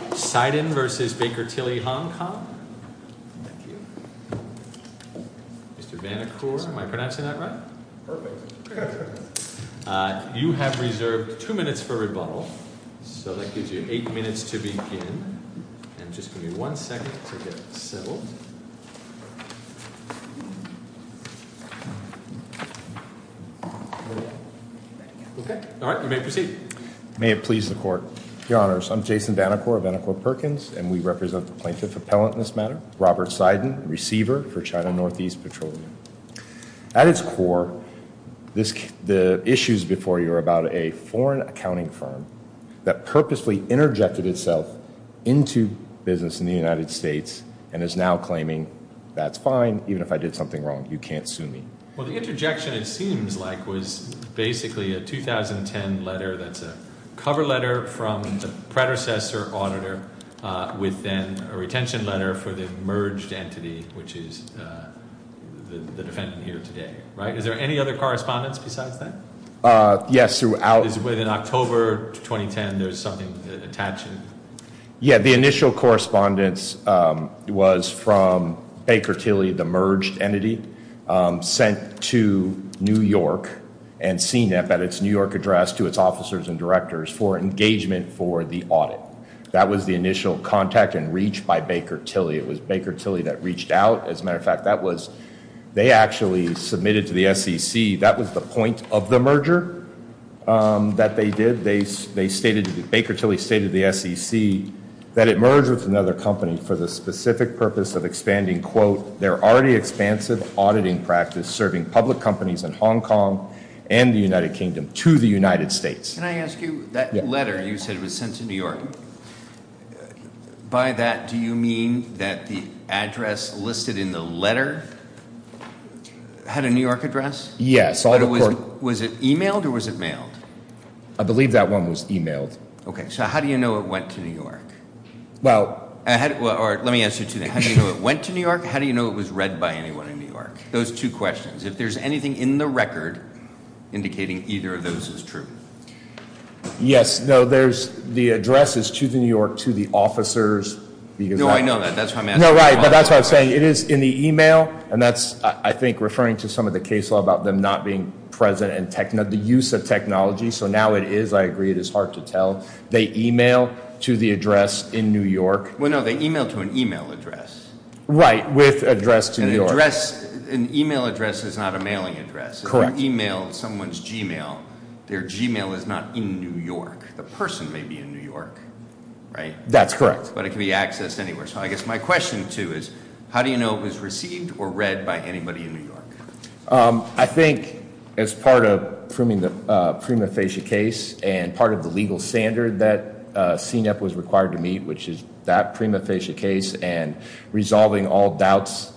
Mr. Banachor, am I pronouncing that right? You have reserved two minutes for rebuttal, so that gives you eight minutes to begin. And just give me one second to get settled. Okay, all right, you may proceed. May it please the Court. Your Honors, I'm Jason Banachor of Banachor Perkins, and we represent the plaintiff appellant in this matter, Robert Seiden, receiver for China Northeast Petroleum. At its core, the issues before you are about a foreign accounting firm that purposefully interjected itself into business in the United States, and is now claiming, that's fine, even if I did something wrong, you can't sue me. Well, the interjection, it seems like, was basically a 2010 letter that's a cover letter from the predecessor auditor, with then a retention letter for the merged entity, which is the defendant here today, right? Is there any other correspondence besides that? Yes, throughout- Is within October 2010, there's something attaching? Yeah, the initial correspondence was from Baker Tilly, the merged entity. Sent to New York, and CNIP at its New York address to its officers and directors for engagement for the audit. That was the initial contact and reach by Baker Tilly. It was Baker Tilly that reached out. As a matter of fact, that was, they actually submitted to the SEC, that was the point of the merger that they did. They stated, Baker Tilly stated to the SEC that it merged with another company for the specific purpose of expanding, quote, their already expansive auditing practice serving public companies in Hong Kong and the United Kingdom to the United States. Can I ask you, that letter you said was sent to New York. By that, do you mean that the address listed in the letter had a New York address? Yes. Was it emailed or was it mailed? I believe that one was emailed. Okay, so how do you know it went to New York? Well- Or let me ask you two things. How do you know it went to New York? How do you know it was read by anyone in New York? Those two questions. If there's anything in the record indicating either of those is true. Yes, no, there's the address is to the New York, to the officers. No, I know that, that's why I'm asking. No, right, but that's what I'm saying. It is in the email, and that's, I think, referring to some of the case law about them not being present and the use of technology. So now it is, I agree, it is hard to tell. They email to the address in New York. Well, no, they email to an email address. Right, with address to New York. An email address is not a mailing address. Correct. If you email someone's Gmail, their Gmail is not in New York. The person may be in New York, right? That's correct. But it can be accessed anywhere. So I guess my question too is, how do you know it was received or read by anybody in New York? I think as part of proving the prima facie case and part of the legal standard that CNEP was required to meet, which is that prima facie case and resolving all doubts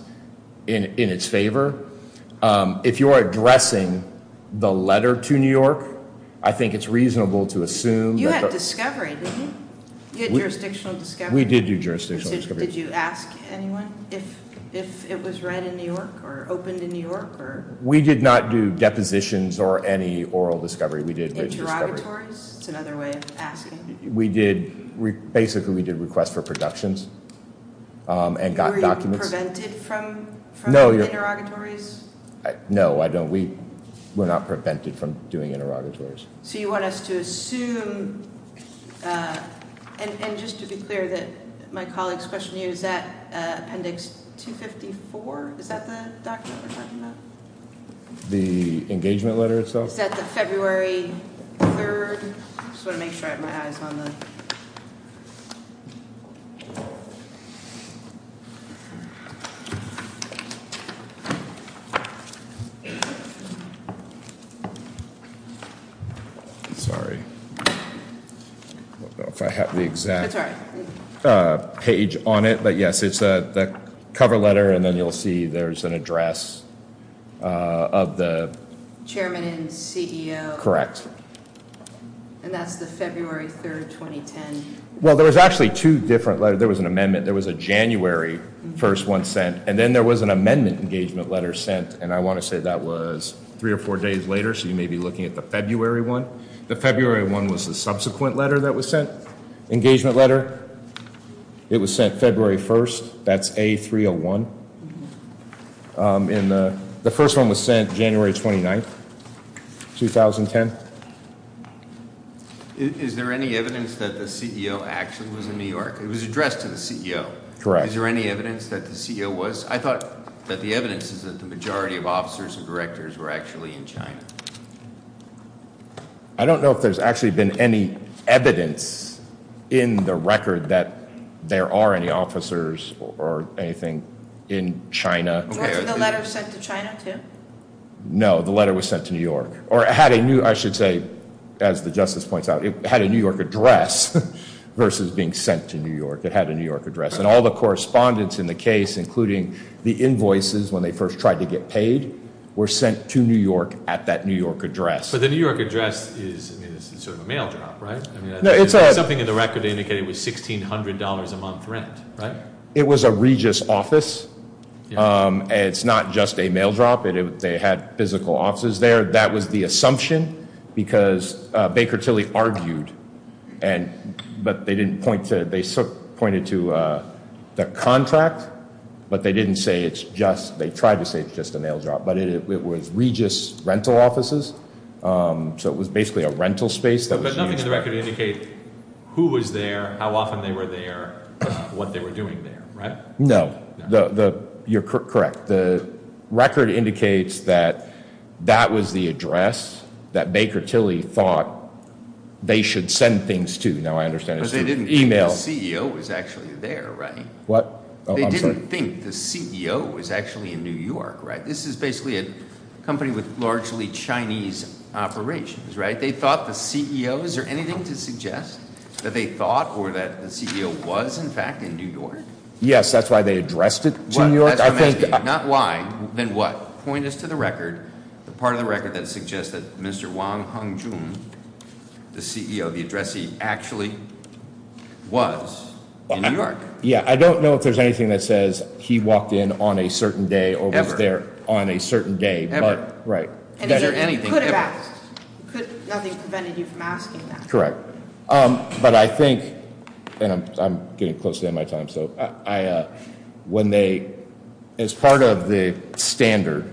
in its favor, if you're addressing the letter to New York, I think it's reasonable to assume- You had discovery, didn't you? You had jurisdictional discovery? We did do jurisdictional discovery. Did you ask anyone if it was read in New York or opened in New York or? We did not do depositions or any oral discovery. Interrogatories? That's another way of asking. We did, basically we did requests for productions and got documents. Were you prevented from interrogatories? No, we're not prevented from doing interrogatories. So you want us to assume, and just to be clear that my colleagues question you, is that appendix 254, is that the document we're talking about? The engagement letter itself? Is that the February 3rd? Just want to make sure I have my eyes on the. Sorry. If I have the exact page on it, but yes, it's the cover letter and then you'll see there's an address of the- Chairman and CEO. And that's the February 3rd, 2010. Well, there was actually two different letters. There was an amendment, there was a January 1st one sent, and then there was an amendment engagement letter sent, and I want to say that was three or four days later. So you may be looking at the February one. The February one was the subsequent letter that was sent. Engagement letter, it was sent February 1st. That's A-301, and the first one was sent January 29th, 2010. Is there any evidence that the CEO actually was in New York? It was addressed to the CEO. Correct. Is there any evidence that the CEO was? I thought that the evidence is that the majority of officers and directors were actually in China. I don't know if there's actually been any evidence in the record that there are any officers or anything in China. Wasn't the letter sent to China, too? No, the letter was sent to New York. Or it had a new, I should say, as the justice points out, it had a New York address versus being sent to New York. It had a New York address. And all the correspondence in the case, including the invoices when they first tried to get paid, were sent to New York at that New York address. But the New York address is sort of a mail drop, right? Something in the record indicated it was $1,600 a month rent, right? It was a Regis office. It's not just a mail drop. They had physical offices there. That was the assumption because Baker Tilly argued, but they pointed to the contract, but they didn't say it's just, they tried to say it's just a mail drop. But it was Regis rental offices, so it was basically a rental space that was used- But nothing in the record indicated who was there, how often they were there, what they were doing there, right? No, you're correct. The record indicates that that was the address that Baker Tilly thought they should send things to. Now I understand it's through email. But they didn't think the CEO was actually there, right? What? I'm sorry. They didn't think the CEO was actually in New York, right? This is basically a company with largely Chinese operations, right? They thought the CEO, is there anything to suggest that they thought or that the CEO was in fact in New York? Yes, that's why they addressed it to New York. I think- That's what I'm asking, not why, then what? Point us to the record, the part of the record that suggests that Mr. Wong Hung Joon, the CEO, the addressee actually was in New York. Yeah, I don't know if there's anything that says he walked in on a certain day or was there on a certain day. Right. And is there anything ever? Could have asked. Could, nothing prevented you from asking that. Correct. But I think, and I'm getting close to the end of my time so, when they, as part of the standard,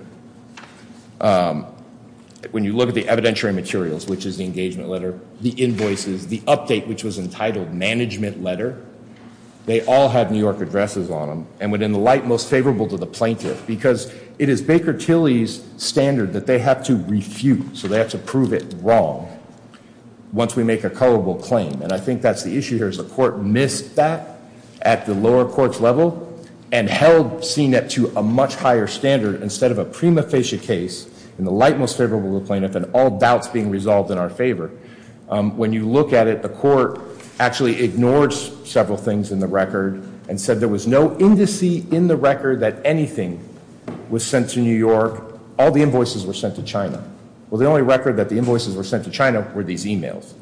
when you look at the evidentiary materials, which is the engagement letter, the invoices, the update, which was entitled management letter, they all have New York addresses on them, and within the light most favorable to the plaintiff. Because it is Baker Tilly's standard that they have to refute. So they have to prove it wrong once we make a culpable claim. And I think that's the issue here is the court missed that at the lower court's level, and held CNET to a much higher standard instead of a prima facie case, in the light most favorable to the plaintiff, and all doubts being resolved in our favor. When you look at it, the court actually ignored several things in the record, and said there was no indice in the record that anything was sent to New York. All the invoices were sent to China. Well, the only record that the invoices were sent to China were these emails.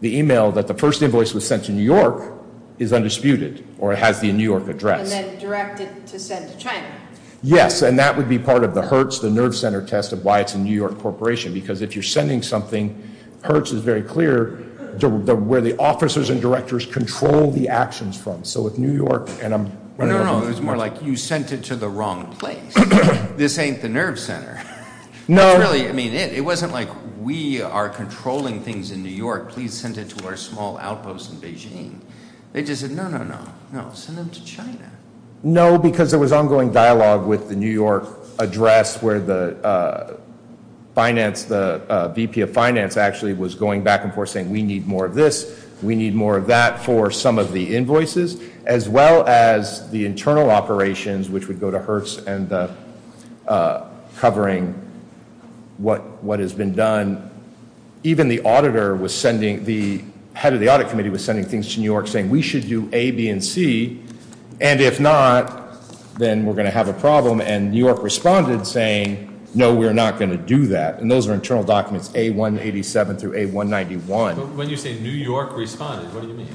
The email that the first invoice was sent to New York is undisputed, or has the New York address. And then direct it to send to China. Yes, and that would be part of the Hertz, the nerve center test of why it's a New York corporation. Because if you're sending something, Hertz is very clear, where the officers and directors control the actions from. So with New York, and I'm running out of time. No, no, it was more like you sent it to the wrong place. This ain't the nerve center. No. It wasn't like we are controlling things in New York. Please send it to our small outpost in Beijing. They just said, no, no, no, no, send them to China. No, because there was ongoing dialogue with the New York address, where the VP of Finance actually was going back and forth saying, we need more of this. We need more of that for some of the invoices, as well as the internal operations, which would go to Hertz and covering what has been done. Even the auditor was sending, the head of the audit committee was sending things to New York, saying we should do A, B, and C. And if not, then we're going to have a problem. And New York responded saying, no, we're not going to do that. And those are internal documents, A187 through A191. When you say New York responded, what do you mean?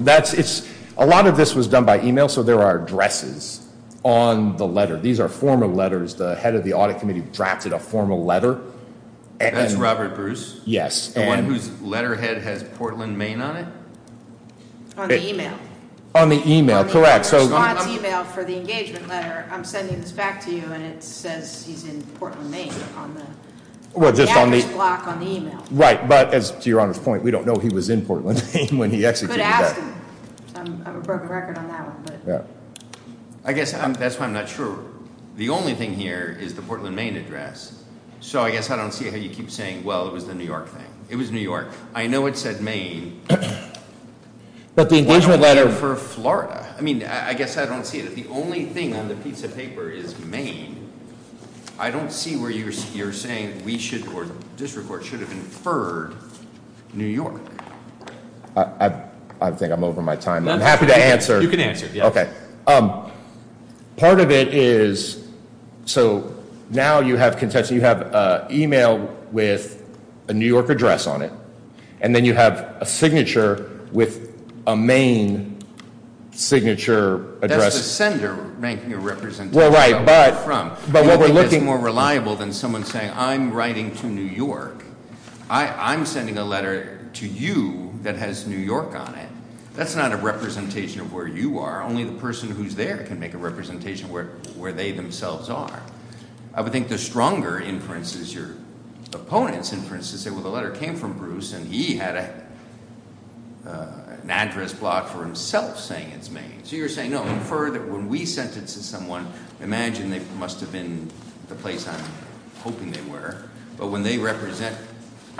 That's, it's, a lot of this was done by email. So there are addresses on the letter. These are formal letters. The head of the audit committee drafted a formal letter. That's Robert Bruce? Yes. The one whose letterhead has Portland, Maine on it? On the email. On the email, correct. So on his email for the engagement letter, I'm sending this back to you. And it says he's in Portland, Maine on the address block on the email. Right. But as to your honor's point, we don't know he was in Portland, Maine when he executed. I'm a broken record on that one, but. I guess that's why I'm not sure. The only thing here is the Portland, Maine address. So I guess I don't see how you keep saying, well, it was the New York thing. It was New York. I know it said Maine. But the engagement letter. For Florida. I mean, I guess I don't see it. If the only thing on the piece of paper is Maine, I don't see where you're saying we should, or the district court should have inferred New York. I think I'm over my time. I'm happy to answer. You can answer. Part of it is, so now you have contention. You have email with a New York address on it. And then you have a signature with a Maine signature address. That's the sender ranking a representative. Well, right. But what we're looking. More reliable than someone saying, I'm writing to New York. I'm sending a letter to you that has New York on it. That's not a representation of where you are. Only the person who's there can make a representation where they themselves are. I would think the stronger inference is your opponent's inference to say, well, the letter came from Bruce, and he had an address block for himself saying it's Maine. So you're saying, no, infer that when we sent it to someone, imagine they must have been the place I'm hoping they were. But when they represent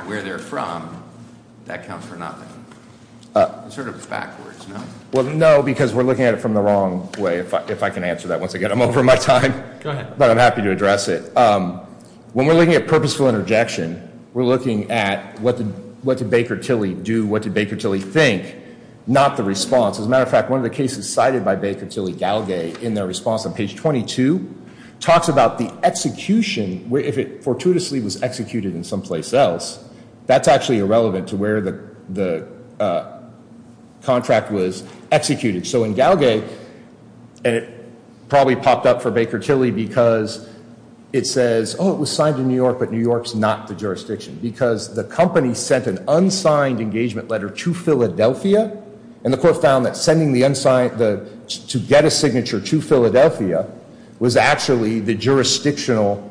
where they're from, that counts for nothing. Sort of backwards, no? Well, no, because we're looking at it from the wrong way, if I can answer that. Once again, I'm over my time. Go ahead. But I'm happy to address it. When we're looking at purposeful interjection, we're looking at what did Baker Tilly do? What did Baker Tilly think? Not the response. As a matter of fact, one of the cases cited by Baker Tilly Galgay in their response on page 22 talks about the execution, if it fortuitously was executed in someplace else, that's actually irrelevant to where the contract was executed. So in Galgay, and it probably popped up for Baker Tilly because it says, oh, it was signed in New York, but New York's not the jurisdiction. Because the company sent an unsigned engagement letter to Philadelphia, and the court found that sending the unsigned, to get a signature to Philadelphia, was actually the jurisdictional,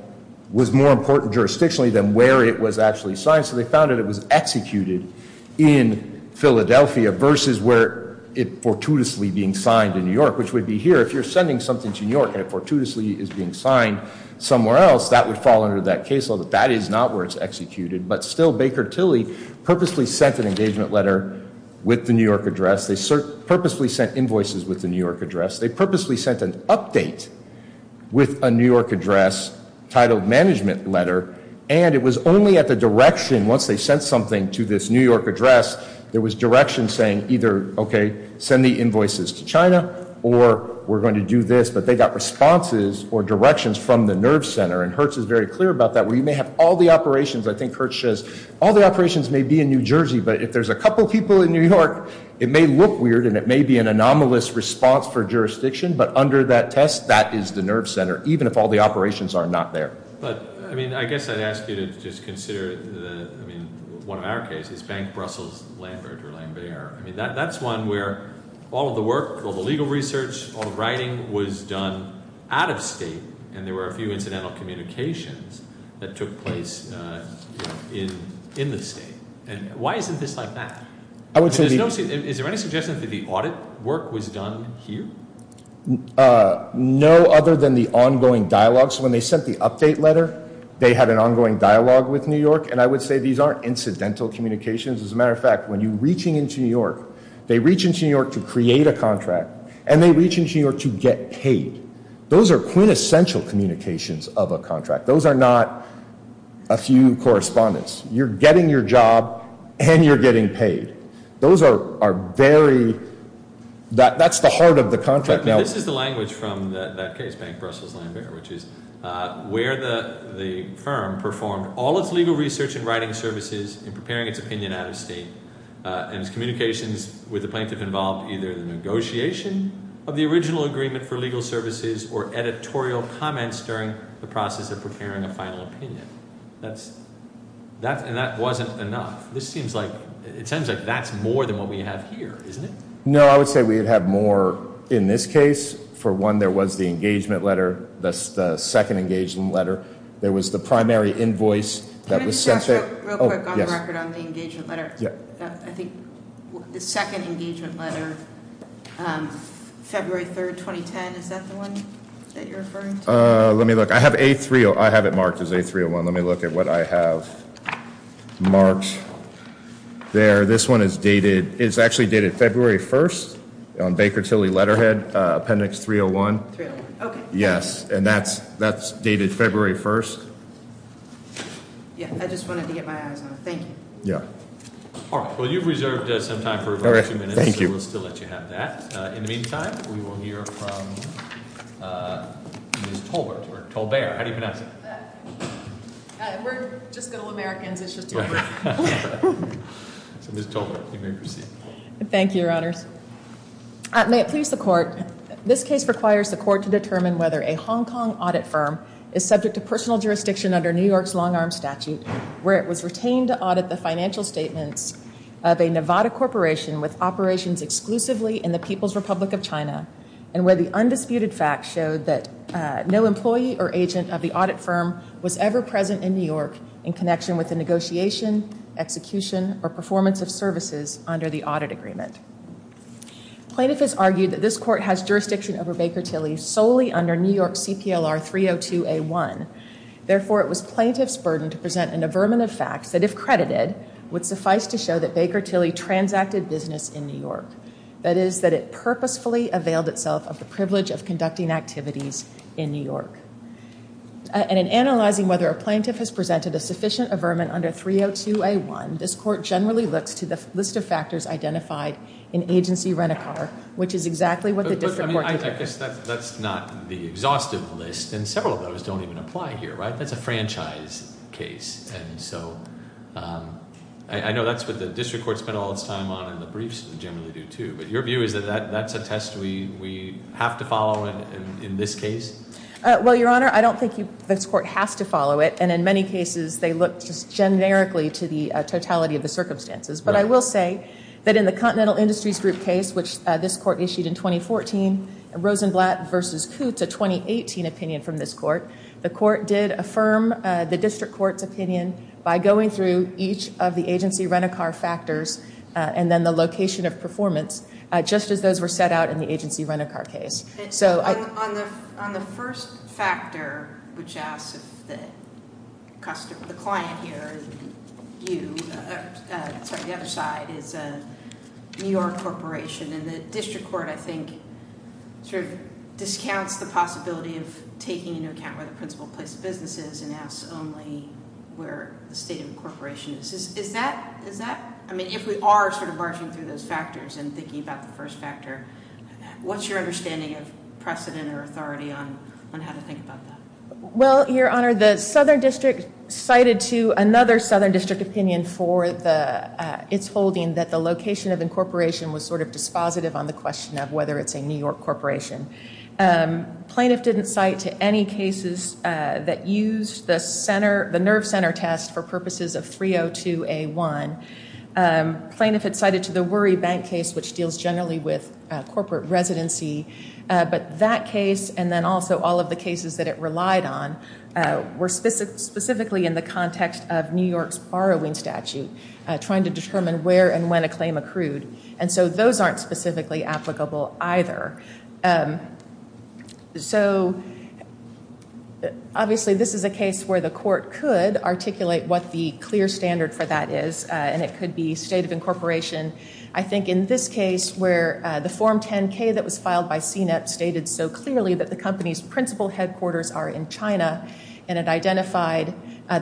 was more important jurisdictionally than where it was actually signed. So they found that it was executed in Philadelphia versus where it fortuitously being signed in New York, which would be here. If you're sending something to New York and it fortuitously is being signed somewhere else, that would fall under that case law. But that is not where it's executed. But still, Baker Tilly purposely sent an engagement letter with the New York address. They purposely sent invoices with the New York address. They purposely sent an update with a New York address titled management letter. And it was only at the direction, once they sent something to this New York address, there was direction saying either, okay, send the invoices to China, or we're going to do this. But they got responses or directions from the nerve center. And Hertz is very clear about that. Where you may have all the operations, I think Hertz says, all the operations may be in New Jersey. But if there's a couple people in New York, it may look weird and it may be an anomalous response for jurisdiction. But under that test, that is the nerve center, even if all the operations are not there. But, I mean, I guess I'd ask you to just consider, I mean, one of our cases, Bank Brussels-Lambert or Lambert. I mean, that's one where all of the work, all the legal research, all the writing was done out of state. And there were a few incidental communications that took place in the state. And why isn't this like that? Is there any suggestion that the audit work was done here? No, other than the ongoing dialogues. When they sent the update letter, they had an ongoing dialogue with New York. And I would say these aren't incidental communications. As a matter of fact, when you're reaching into New York, they reach into New York to create a contract. And they reach into New York to get paid. Those are quintessential communications of a contract. Those are not a few correspondence. You're getting your job and you're getting paid. Those are very, that's the heart of the contract now. This is the language from that case, Bank Brussels-Lambert, which is where the firm performed all its legal research and writing services in preparing its opinion out of state, and its communications with the plaintiff involved either the negotiation of the original agreement for legal services or editorial comments during the process of preparing a final opinion. That's, and that wasn't enough. This seems like, it sounds like that's more than what we have here, isn't it? No, I would say we have more in this case. For one, there was the engagement letter, that's the second engagement letter. There was the primary invoice that was sent to- Can I just ask real quick on the record on the engagement letter? Yeah. I think the second engagement letter, February 3rd, 2010, is that the one that you're referring to? Let me look, I have A301, I have it marked as A301. Let me look at what I have marked there. This one is dated, it's actually dated February 1st on Baker Tilly Letterhead, Appendix 301. 301, okay. Yes, and that's dated February 1st. Yeah, I just wanted to get my eyes on it, thank you. Yeah. All right, well you've reserved some time for about two minutes, so we'll still let you have that. In the meantime, we will hear from Ms. Tolbert, or Tolbert, how do you pronounce it? We're just good old Americans, it's just Tolbert. So Ms. Tolbert, you may proceed. Thank you, your honors. May it please the court, this case requires the court to determine whether a Hong Kong audit firm is subject to personal jurisdiction under New York's long arm statute, where it was retained to audit the financial statements of a Nevada corporation with operations exclusively in the People's Republic of China, and where the undisputed fact showed that no employee or agent of the audit firm was ever present in New York in connection with the negotiation, execution, or performance of services under the audit agreement. Plaintiff has argued that this court has jurisdiction over Baker Tilly solely under New York CPLR 302A1. Therefore, it was plaintiff's burden to present an averment of facts that, if credited, would suffice to show that Baker Tilly transacted business in New York. That is, that it purposefully availed itself of the privilege of conducting activities in New York. And in analyzing whether a plaintiff has presented a sufficient averment under 302A1, this court generally looks to the list of factors identified in agency rent-a-car, which is exactly what the district court- I guess that's not the exhaustive list, and several of those don't even apply here, right? That's a franchise case, and so I know that's what the district court spent all its time on, and the briefs generally do, too. But your view is that that's a test we have to follow in this case? Well, Your Honor, I don't think this court has to follow it. And in many cases, they look just generically to the totality of the circumstances. But I will say that in the Continental Industries Group case, which this court issued in 2014, Rosenblatt v. Kootz, a 2018 opinion from this court, the court did affirm the district court's opinion by going through each of the agency rent-a-car factors, and then the location of performance, just as those were set out in the agency rent-a-car case. So- On the first factor, which asks if the customer, the client here, you, sorry, the other side is a New York corporation. And the district court, I think, sort of discounts the possibility of taking into account where the principal place of business is, and asks only where the state of the corporation is. Is that, I mean, if we are sort of marching through those factors and thinking about the first factor, what's your understanding of precedent or authority on how to think about that? Well, your honor, the Southern District cited to another Southern District opinion for its holding that the location of incorporation was sort of dispositive on the question of whether it's a New York corporation. Plaintiff didn't cite to any cases that used the nerve center test for purposes of 302A1. Plaintiff had cited to the Worry Bank case, which deals generally with corporate residency. But that case, and then also all of the cases that it relied on, were specifically in the context of New York's borrowing statute, trying to determine where and when a claim accrued. And so those aren't specifically applicable either. So, obviously, this is a case where the court could articulate what the clear standard for that is, and it could be state of incorporation. I think in this case, where the form 10-K that was filed by CNET stated so clearly that the company's principal headquarters are in China, and it identified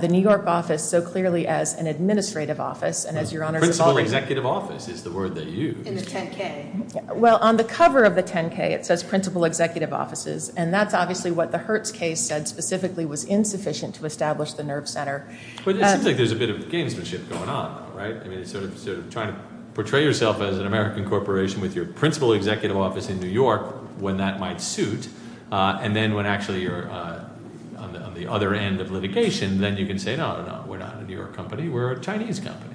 the New York office so clearly as an administrative office. And as your honor- Principal executive office is the word they used. In the 10-K. Well, on the cover of the 10-K, it says principal executive offices. And that's obviously what the Hertz case said specifically was insufficient to establish the nerve center. But it seems like there's a bit of gamesmanship going on, right? Trying to portray yourself as an American corporation with your principal executive office in New York, when that might suit. And then when actually you're on the other end of litigation, then you can say, no, no, we're not a New York company, we're a Chinese company.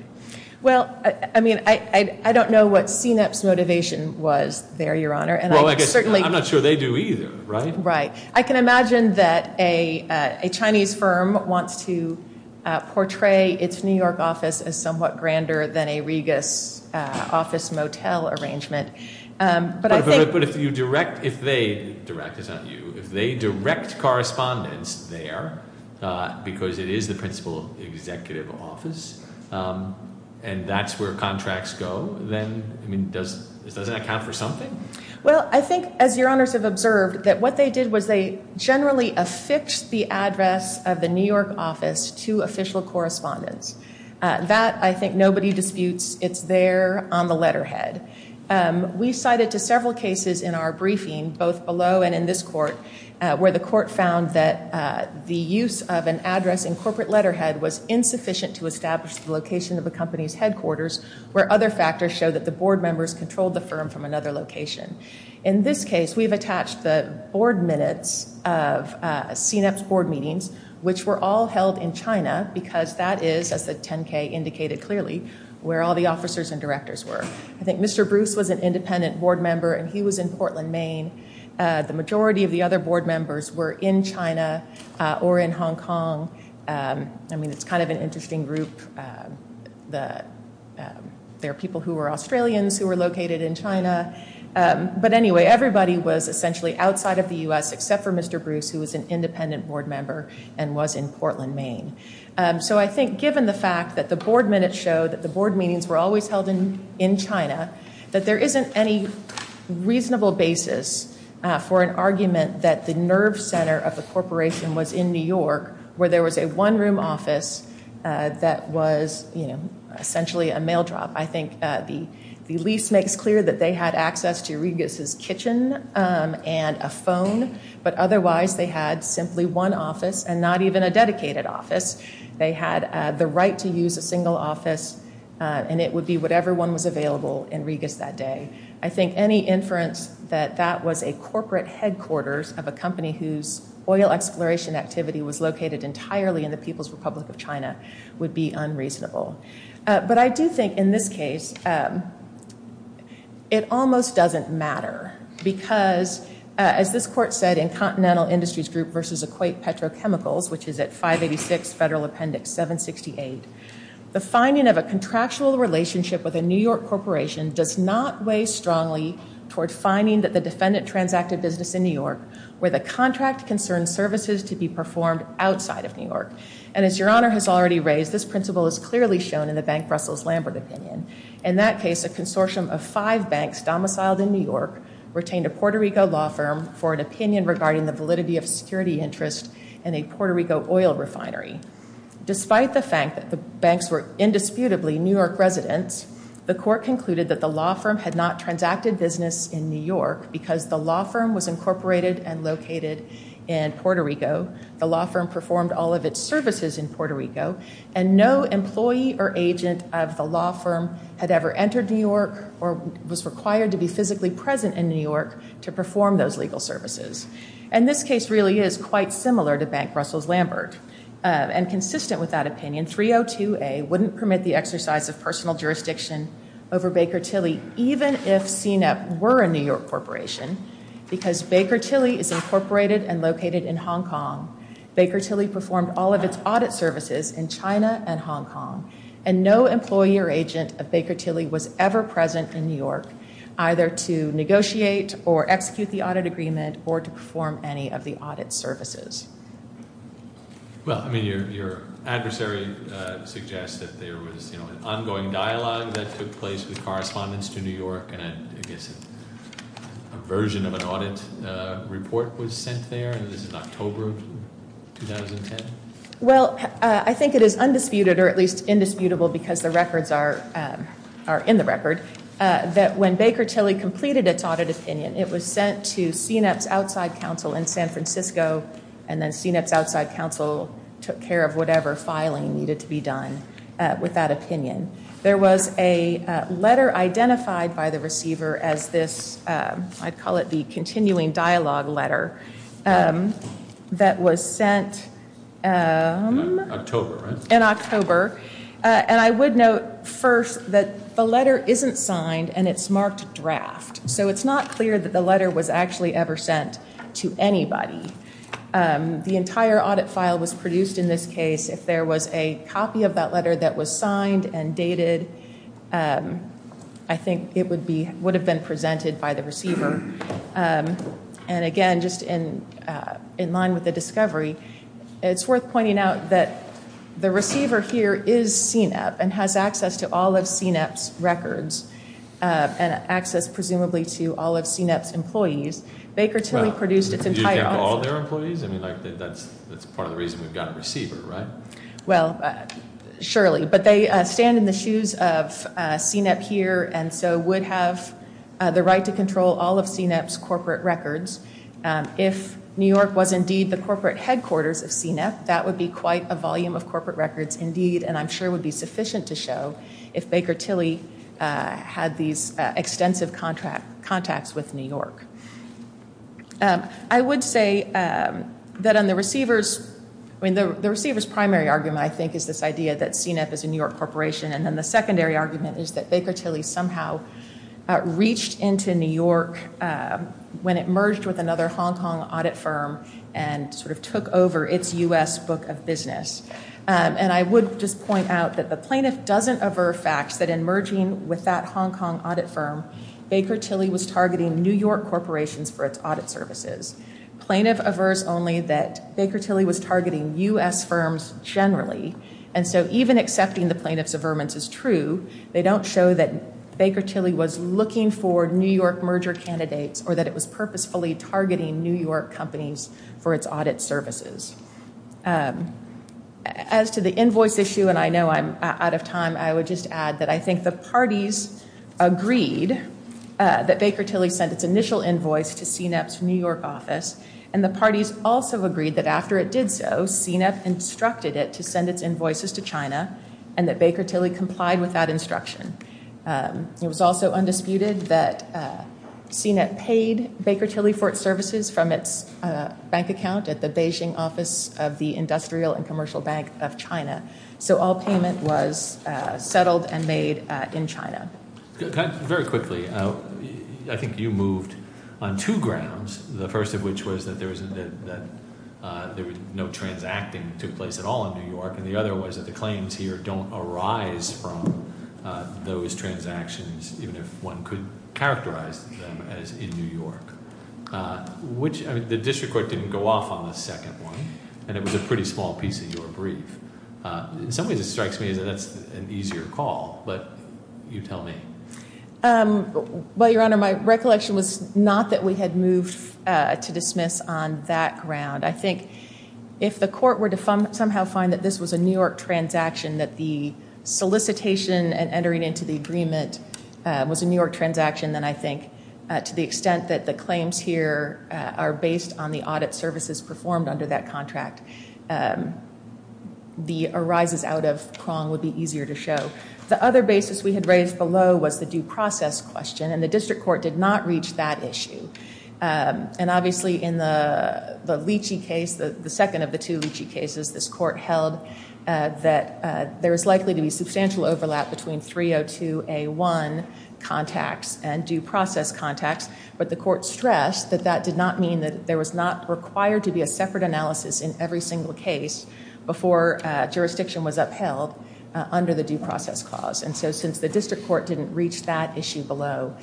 Well, I mean, I don't know what CNET's motivation was there, your honor. And I'm not sure they do either, right? Right. I can imagine that a Chinese firm wants to portray its New York office as somewhat grander than a Regus office motel arrangement. But I think- But if you direct, if they direct, it's not you, if they direct correspondence there, because it is the principal executive office, and that's where contracts go, then, I mean, does it account for something? Well, I think, as your honors have observed, that what they did was they generally affixed the address of the New York office to official correspondence. That, I think, nobody disputes. It's there on the letterhead. We cited to several cases in our briefing, both below and in this court, where the court found that the use of an address in corporate letterhead was insufficient to establish the location of the company's headquarters, where other factors show that the board members controlled the firm from another location. In this case, we've attached the board minutes of CNEP's board meetings, which were all held in China, because that is, as the 10K indicated clearly, where all the officers and directors were. I think Mr. Bruce was an independent board member, and he was in Portland, Maine. The majority of the other board members were in China or in Hong Kong. I mean, it's kind of an interesting group. There are people who were Australians who were located in China. But anyway, everybody was essentially outside of the U.S., except for Mr. Bruce, who was an independent board member and was in Portland, Maine. So I think, given the fact that the board minutes showed that the board meetings were always held in China, that there isn't any reasonable basis for an argument that the nerve center of the corporation was in New York, where there was a one-room office that was, you know, essentially a mail drop. I think the lease makes clear that they had access to Regas's kitchen and a phone, but otherwise they had simply one office and not even a dedicated office. They had the right to use a single office, and it would be whatever one was available in Regas that day. I think any inference that that was a corporate headquarters of a company whose oil exploration activity was located entirely in the People's Republic of China would be unreasonable. But I do think, in this case, it almost doesn't matter, because, as this court said in Continental Industries Group v. Equate Petrochemicals, which is at 586 Federal Appendix 768, the finding of a contractual relationship with a New York corporation does not weigh strongly toward finding that the defendant transacted business in New York where the contract concerned services to be performed outside of New York. And as Your Honor has already raised, this principle is clearly shown in the Bank of Brussels Lambert opinion. In that case, a consortium of five banks domiciled in New York retained a Puerto Rico law firm for an opinion regarding the validity of security interest in a Puerto Rico oil refinery. Despite the fact that the banks were indisputably New York residents, the court concluded that the law firm had not transacted business in New York because the law firm was incorporated and located in Puerto Rico. The law firm performed all of its services in Puerto Rico, and no employee or agent of the law firm had ever entered New York or was required to be physically present in New York to perform those legal services. And this case really is quite similar to Bank Brussels Lambert. And consistent with that opinion, 302A wouldn't permit the exercise of personal jurisdiction over Baker Tilly, even if CNEP were a New York corporation, because Baker Tilly is incorporated and located in Hong Kong. Baker Tilly performed all of its audit services in China and Hong Kong, and no employee or agent of Baker Tilly was ever present in New York, either to negotiate or execute the audit agreement, or to perform any of the audit services. Well, I mean, your adversary suggests that there was an ongoing dialogue that took place with correspondence to New York, and I guess a version of an audit report was sent there, and this is October of 2010? Well, I think it is undisputed, or at least indisputable, because the records are in the record, that when Baker Tilly completed its audit opinion, it was sent to CNEP's outside counsel in San Francisco, and then CNEP's outside counsel took care of whatever filing needed to be done with that opinion. There was a letter identified by the receiver as this, I'd call it the continuing dialogue letter, that was sent in October, and I would note first that the letter isn't signed and it's marked draft, so it's not clear that the letter was actually ever sent to anybody. The entire audit file was produced in this case if there was a copy of that letter that was signed and dated, I think it would have been presented by the receiver, and again, just in line with the discovery, it's worth pointing out that the receiver here is CNEP and has access to all of CNEP's records, and access, presumably, to all of CNEP's employees. Baker Tilly produced its entire audit. You think all their employees? I mean, that's part of the reason we've got a receiver, right? Well, surely, but they stand in the shoes of CNEP here and so would have the right to control all of CNEP's corporate records. If New York was indeed the corporate headquarters of CNEP, that would be quite a volume of corporate records indeed, and I'm sure would be sufficient to show if Baker Tilly had these extensive contacts with New York. I would say that on the receiver's, I mean, the receiver's primary argument, I think, is this idea that CNEP is a New York corporation, and then the secondary argument is that Baker Tilly somehow reached into New York when it merged with another Hong Kong audit firm and sort of took over its U.S. book of business, and I would just point out that the plaintiff doesn't aver facts that in merging with that Hong Kong audit firm, Baker Tilly was targeting New York corporations for its audit services. Plaintiff avers only that Baker Tilly was targeting U.S. firms generally, and so even accepting the plaintiff's averments is true. They don't show that Baker Tilly was looking for New York merger candidates or that it was purposefully targeting New York companies for its audit services. As to the invoice issue, and I know I'm out of time, I would just add that I think the parties agreed that Baker Tilly sent its initial invoice to CNEP's New York office, and the parties also agreed that after it did so, CNEP instructed it to send its invoices to China and that Baker Tilly complied with that instruction. It was also undisputed that CNEP paid Baker Tilly for its services from its bank account at the Beijing office of the Industrial and Commercial Bank of China, so all payment was settled and made in China. Very quickly, I think you moved on two grounds, the first of which was that there was no transacting that took place at all in New York, and the other was that the claims here don't arise from those transactions, even if one could characterize them as in New York. The district court didn't go off on the second one, and it was a pretty small piece of your brief. In some ways, it strikes me that that's an easier call, but you tell me. Well, Your Honor, my recollection was not that we had moved to dismiss on that ground. I think if the court were to somehow find that this was a New York transaction, that the solicitation and entering into the agreement was a New York transaction, then I think to the extent that the claims here are based on the audit services performed under that contract, the arises out of prong would be easier to show. The other basis we had raised below was the due process question, and the district court did not reach that issue. And obviously, in the Leachy case, the second of the two Leachy cases, this court held that there is likely to be substantial overlap between 302A1 contacts and due process contacts, but the court stressed that that did not mean that there was not required to be a separate analysis in every single case before jurisdiction was upheld under the due process clause. And so since the district court didn't reach that issue below,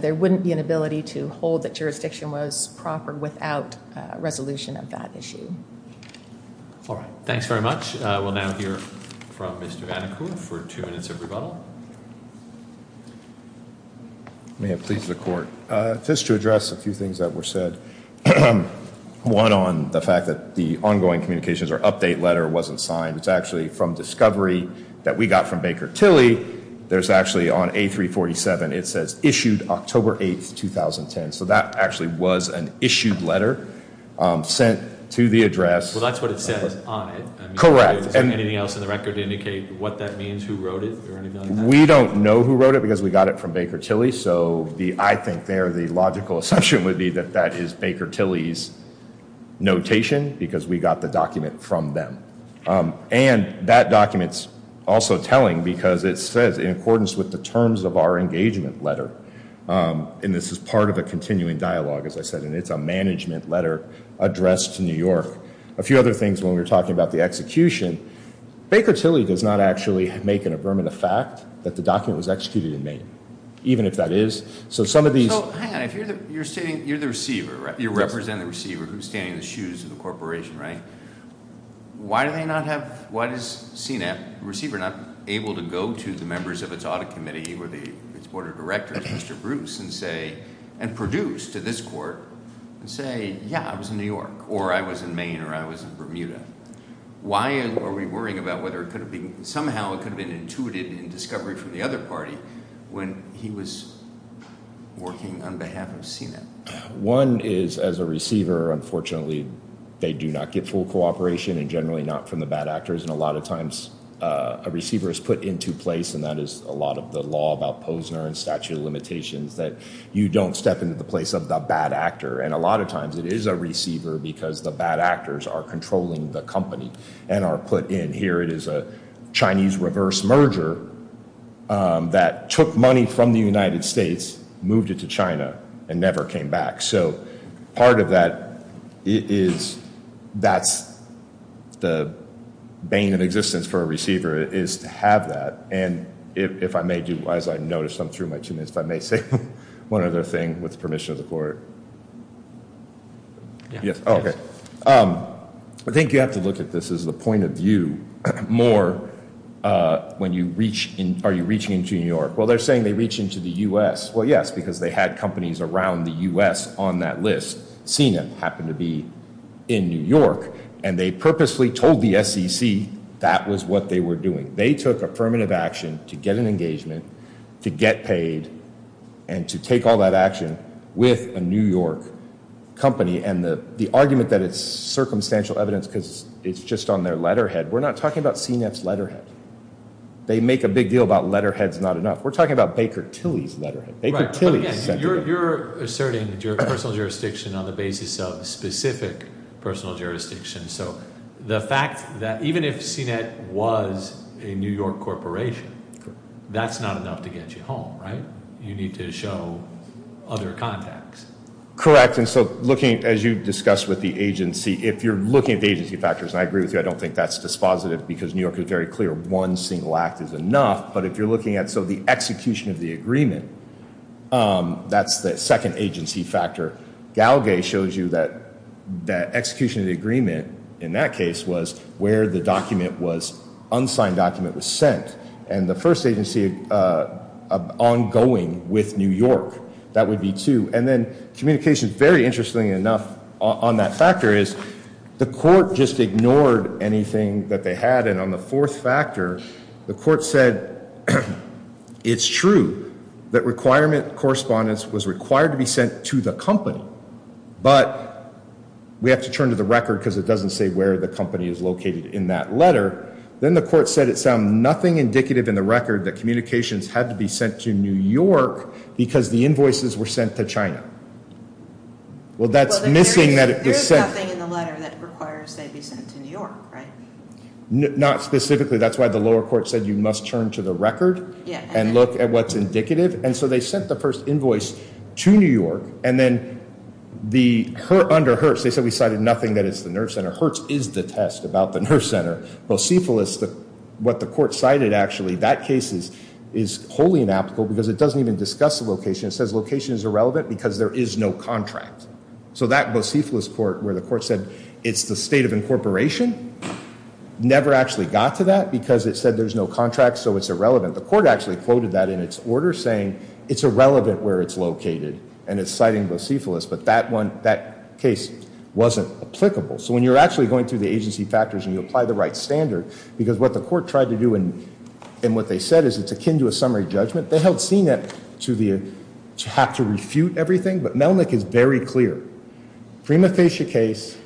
there wouldn't be an ability to hold that jurisdiction was proper without a resolution of that issue. All right. Thanks very much. We'll now hear from Mr. Anacur for two minutes of rebuttal. I may have pleased the court. Just to address a few things that were said. One on the fact that the ongoing communications or update letter wasn't signed. It's actually from discovery that we got from Baker Tilly. There's actually on A347, it says issued October 8th, 2010. So that actually was an issued letter sent to the address. Well, that's what it says on it. And anything else in the record indicate what that means, who wrote it or anything like that? We don't know who wrote it because we got it from Baker Tilly. So I think there the logical assumption would be that that is Baker Tilly's notation because we got the document from them. And that document's also telling because it says in accordance with the terms of our engagement letter. And this is part of a continuing dialogue, as I said, and it's a management letter addressed to New York. A few other things when we were talking about the execution. Baker Tilly does not actually make an affirmative fact that the document was executed in Maine. Even if that is. So some of these... So, Hannah, you're the receiver, right? You represent the receiver who's standing in the shoes of the corporation, right? Why do they not have... Why is CNET receiver not able to go to the members of its audit committee or its board of directors, Mr. Bruce, and say... And produce to this court and say, yeah, I was in New York, or I was in Maine, or I was in Bermuda. Why are we worrying about whether it could have been... Somehow it could have been intuited in discovery from the other party when he was working on behalf of CNET? One is, as a receiver, unfortunately, they do not get full cooperation and generally not from the bad actors. And a lot of times a receiver is put into place, and that is a lot of the law about Posner and statute of limitations, that you don't step into the place of the bad actor. And a lot of times it is a receiver because the bad actors are controlling the company and are put in. It is a Chinese reverse merger that took money from the United States, moved it to China, and never came back. So part of that is... That's the bane of existence for a receiver is to have that. And if I may do... As I noticed, I'm through my two minutes, but I may say one other thing with the permission of the court. Yes. Okay. I think you have to look at this as the point of view more when you reach... Are you reaching into New York? Well, they're saying they reach into the US. Well, yes, because they had companies around the US on that list. CNET happened to be in New York, and they purposely told the SEC that was what they were doing. They took affirmative action to get an engagement, to get paid, and to take all that action with a New York company. And the argument that it's circumstantial evidence because it's just on their letterhead, we're not talking about CNET's letterhead. They make a big deal about letterhead's not enough. We're talking about Baker Tilly's letterhead. Baker Tilly sent it. You're asserting that your personal jurisdiction on the basis of specific personal jurisdiction. So the fact that even if CNET was a New York corporation, that's not enough to get you home, right? You need to show other contacts. Correct. And so looking, as you discussed with the agency, if you're looking at the agency factors, I agree with you, I don't think that's dispositive because New York is very clear one single act is enough. But if you're looking at, so the execution of the agreement, that's the second agency factor. Galgay shows you that execution of the agreement in that case was where the document was, unsigned document was sent. And the first agency ongoing with New York, that would be two. And then communication, very interestingly enough on that factor is the court just ignored anything that they had. And on the fourth factor, the court said, it's true that requirement correspondence was required to be sent to the company. But we have to turn to the record because it doesn't say where the company is located in that letter. Then the court said it sounded nothing indicative in the record that communications had to be sent to New York because the invoices were sent to China. Well, that's missing that it was sent. There's nothing in the letter that requires they be sent to New York, right? Not specifically. That's why the lower court said you must turn to the record and look at what's indicative. And so they sent the first invoice to New York and then under Hertz, they said we cited nothing that is the nerve center. Hertz is the test about the nerve center. Bocephalus, what the court cited actually, that case is wholly inapplicable because it doesn't even discuss the location. It says location is irrelevant because there is no contract. So that Bocephalus court where the court said it's the state of incorporation never actually got to that because it said there's no contract. So it's irrelevant. The court actually quoted that in its order saying it's irrelevant where it's located and it's citing Bocephalus, but that case wasn't applicable. So when you're actually going through the agency factors and you apply the right standard because what the court tried to do and what they said is it's akin to a summary judgment. They held CNIP to have to refute everything, but Melnick is very clear. Prima facie case,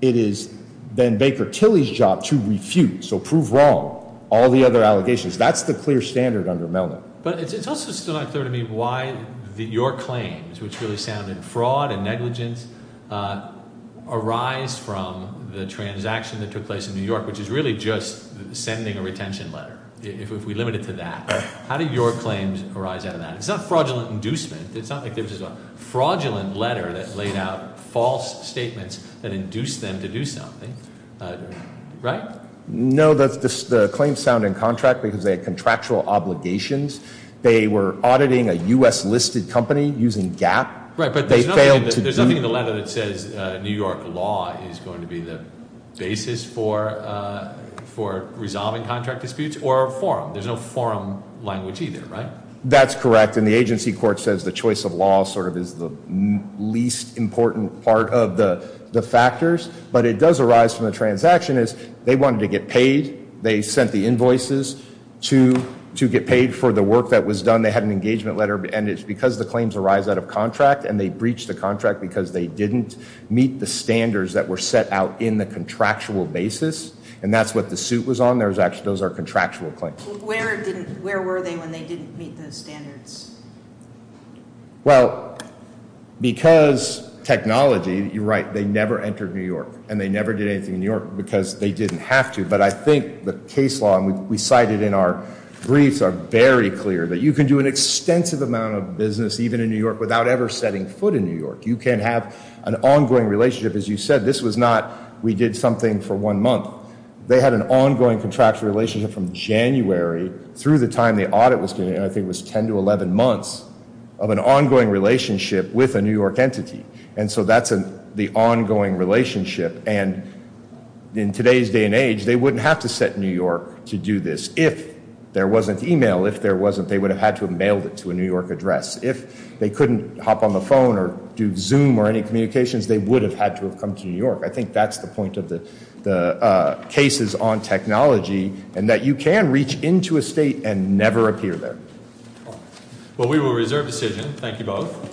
it is Ben Baker Tilley's job to refute. So prove wrong all the other allegations. That's the clear standard under Melnick. But it's also still not clear to me why your claims, which really sounded fraud and negligence, arise from the transaction that took place in New York, which is really just sending a retention letter. If we limit it to that, how do your claims arise out of that? It's not fraudulent inducement. It's not like there was a fraudulent letter that laid out false statements that induced them to do something, right? No, the claims sound in contract because they had contractual obligations. They were auditing a U.S. listed company using GAP. Right, but there's nothing in the letter that says New York law is going to be the basis for resolving contract disputes or a forum. There's no forum language either, right? That's correct. And the agency court says the choice of law sort of is the least important part of the factors. But it does arise from the transaction is they wanted to get paid. They sent the invoices to get paid for the work that was done. They had an engagement letter. And it's because the claims arise out of contract and they breached the contract because they didn't meet the standards that were set out in the contractual basis. And that's what the suit was on. Those are contractual claims. Where were they when they didn't meet those standards? Well, because technology, you're right, they never entered New York and they never did anything in New York because they didn't have to. But I think the case law, and we cited in our briefs are very clear that you can do an extensive amount of business even in New York without ever setting foot in New York. You can have an ongoing relationship. As you said, this was not, we did something for one month. They had an ongoing contractual relationship from January through the time the audit was, I think it was 10 to 11 months of an ongoing relationship with a New York entity. And so that's the ongoing relationship. And in today's day and age, they wouldn't have to set New York to do this if there wasn't email. If there wasn't, they would have had to have mailed it to a New York address. If they couldn't hop on the phone or do Zoom or any communications, they would have had to have come to New York. I think that's the point of the cases on technology and that you can reach into a state and never appear there. Well, we will reserve decision. Thank you both.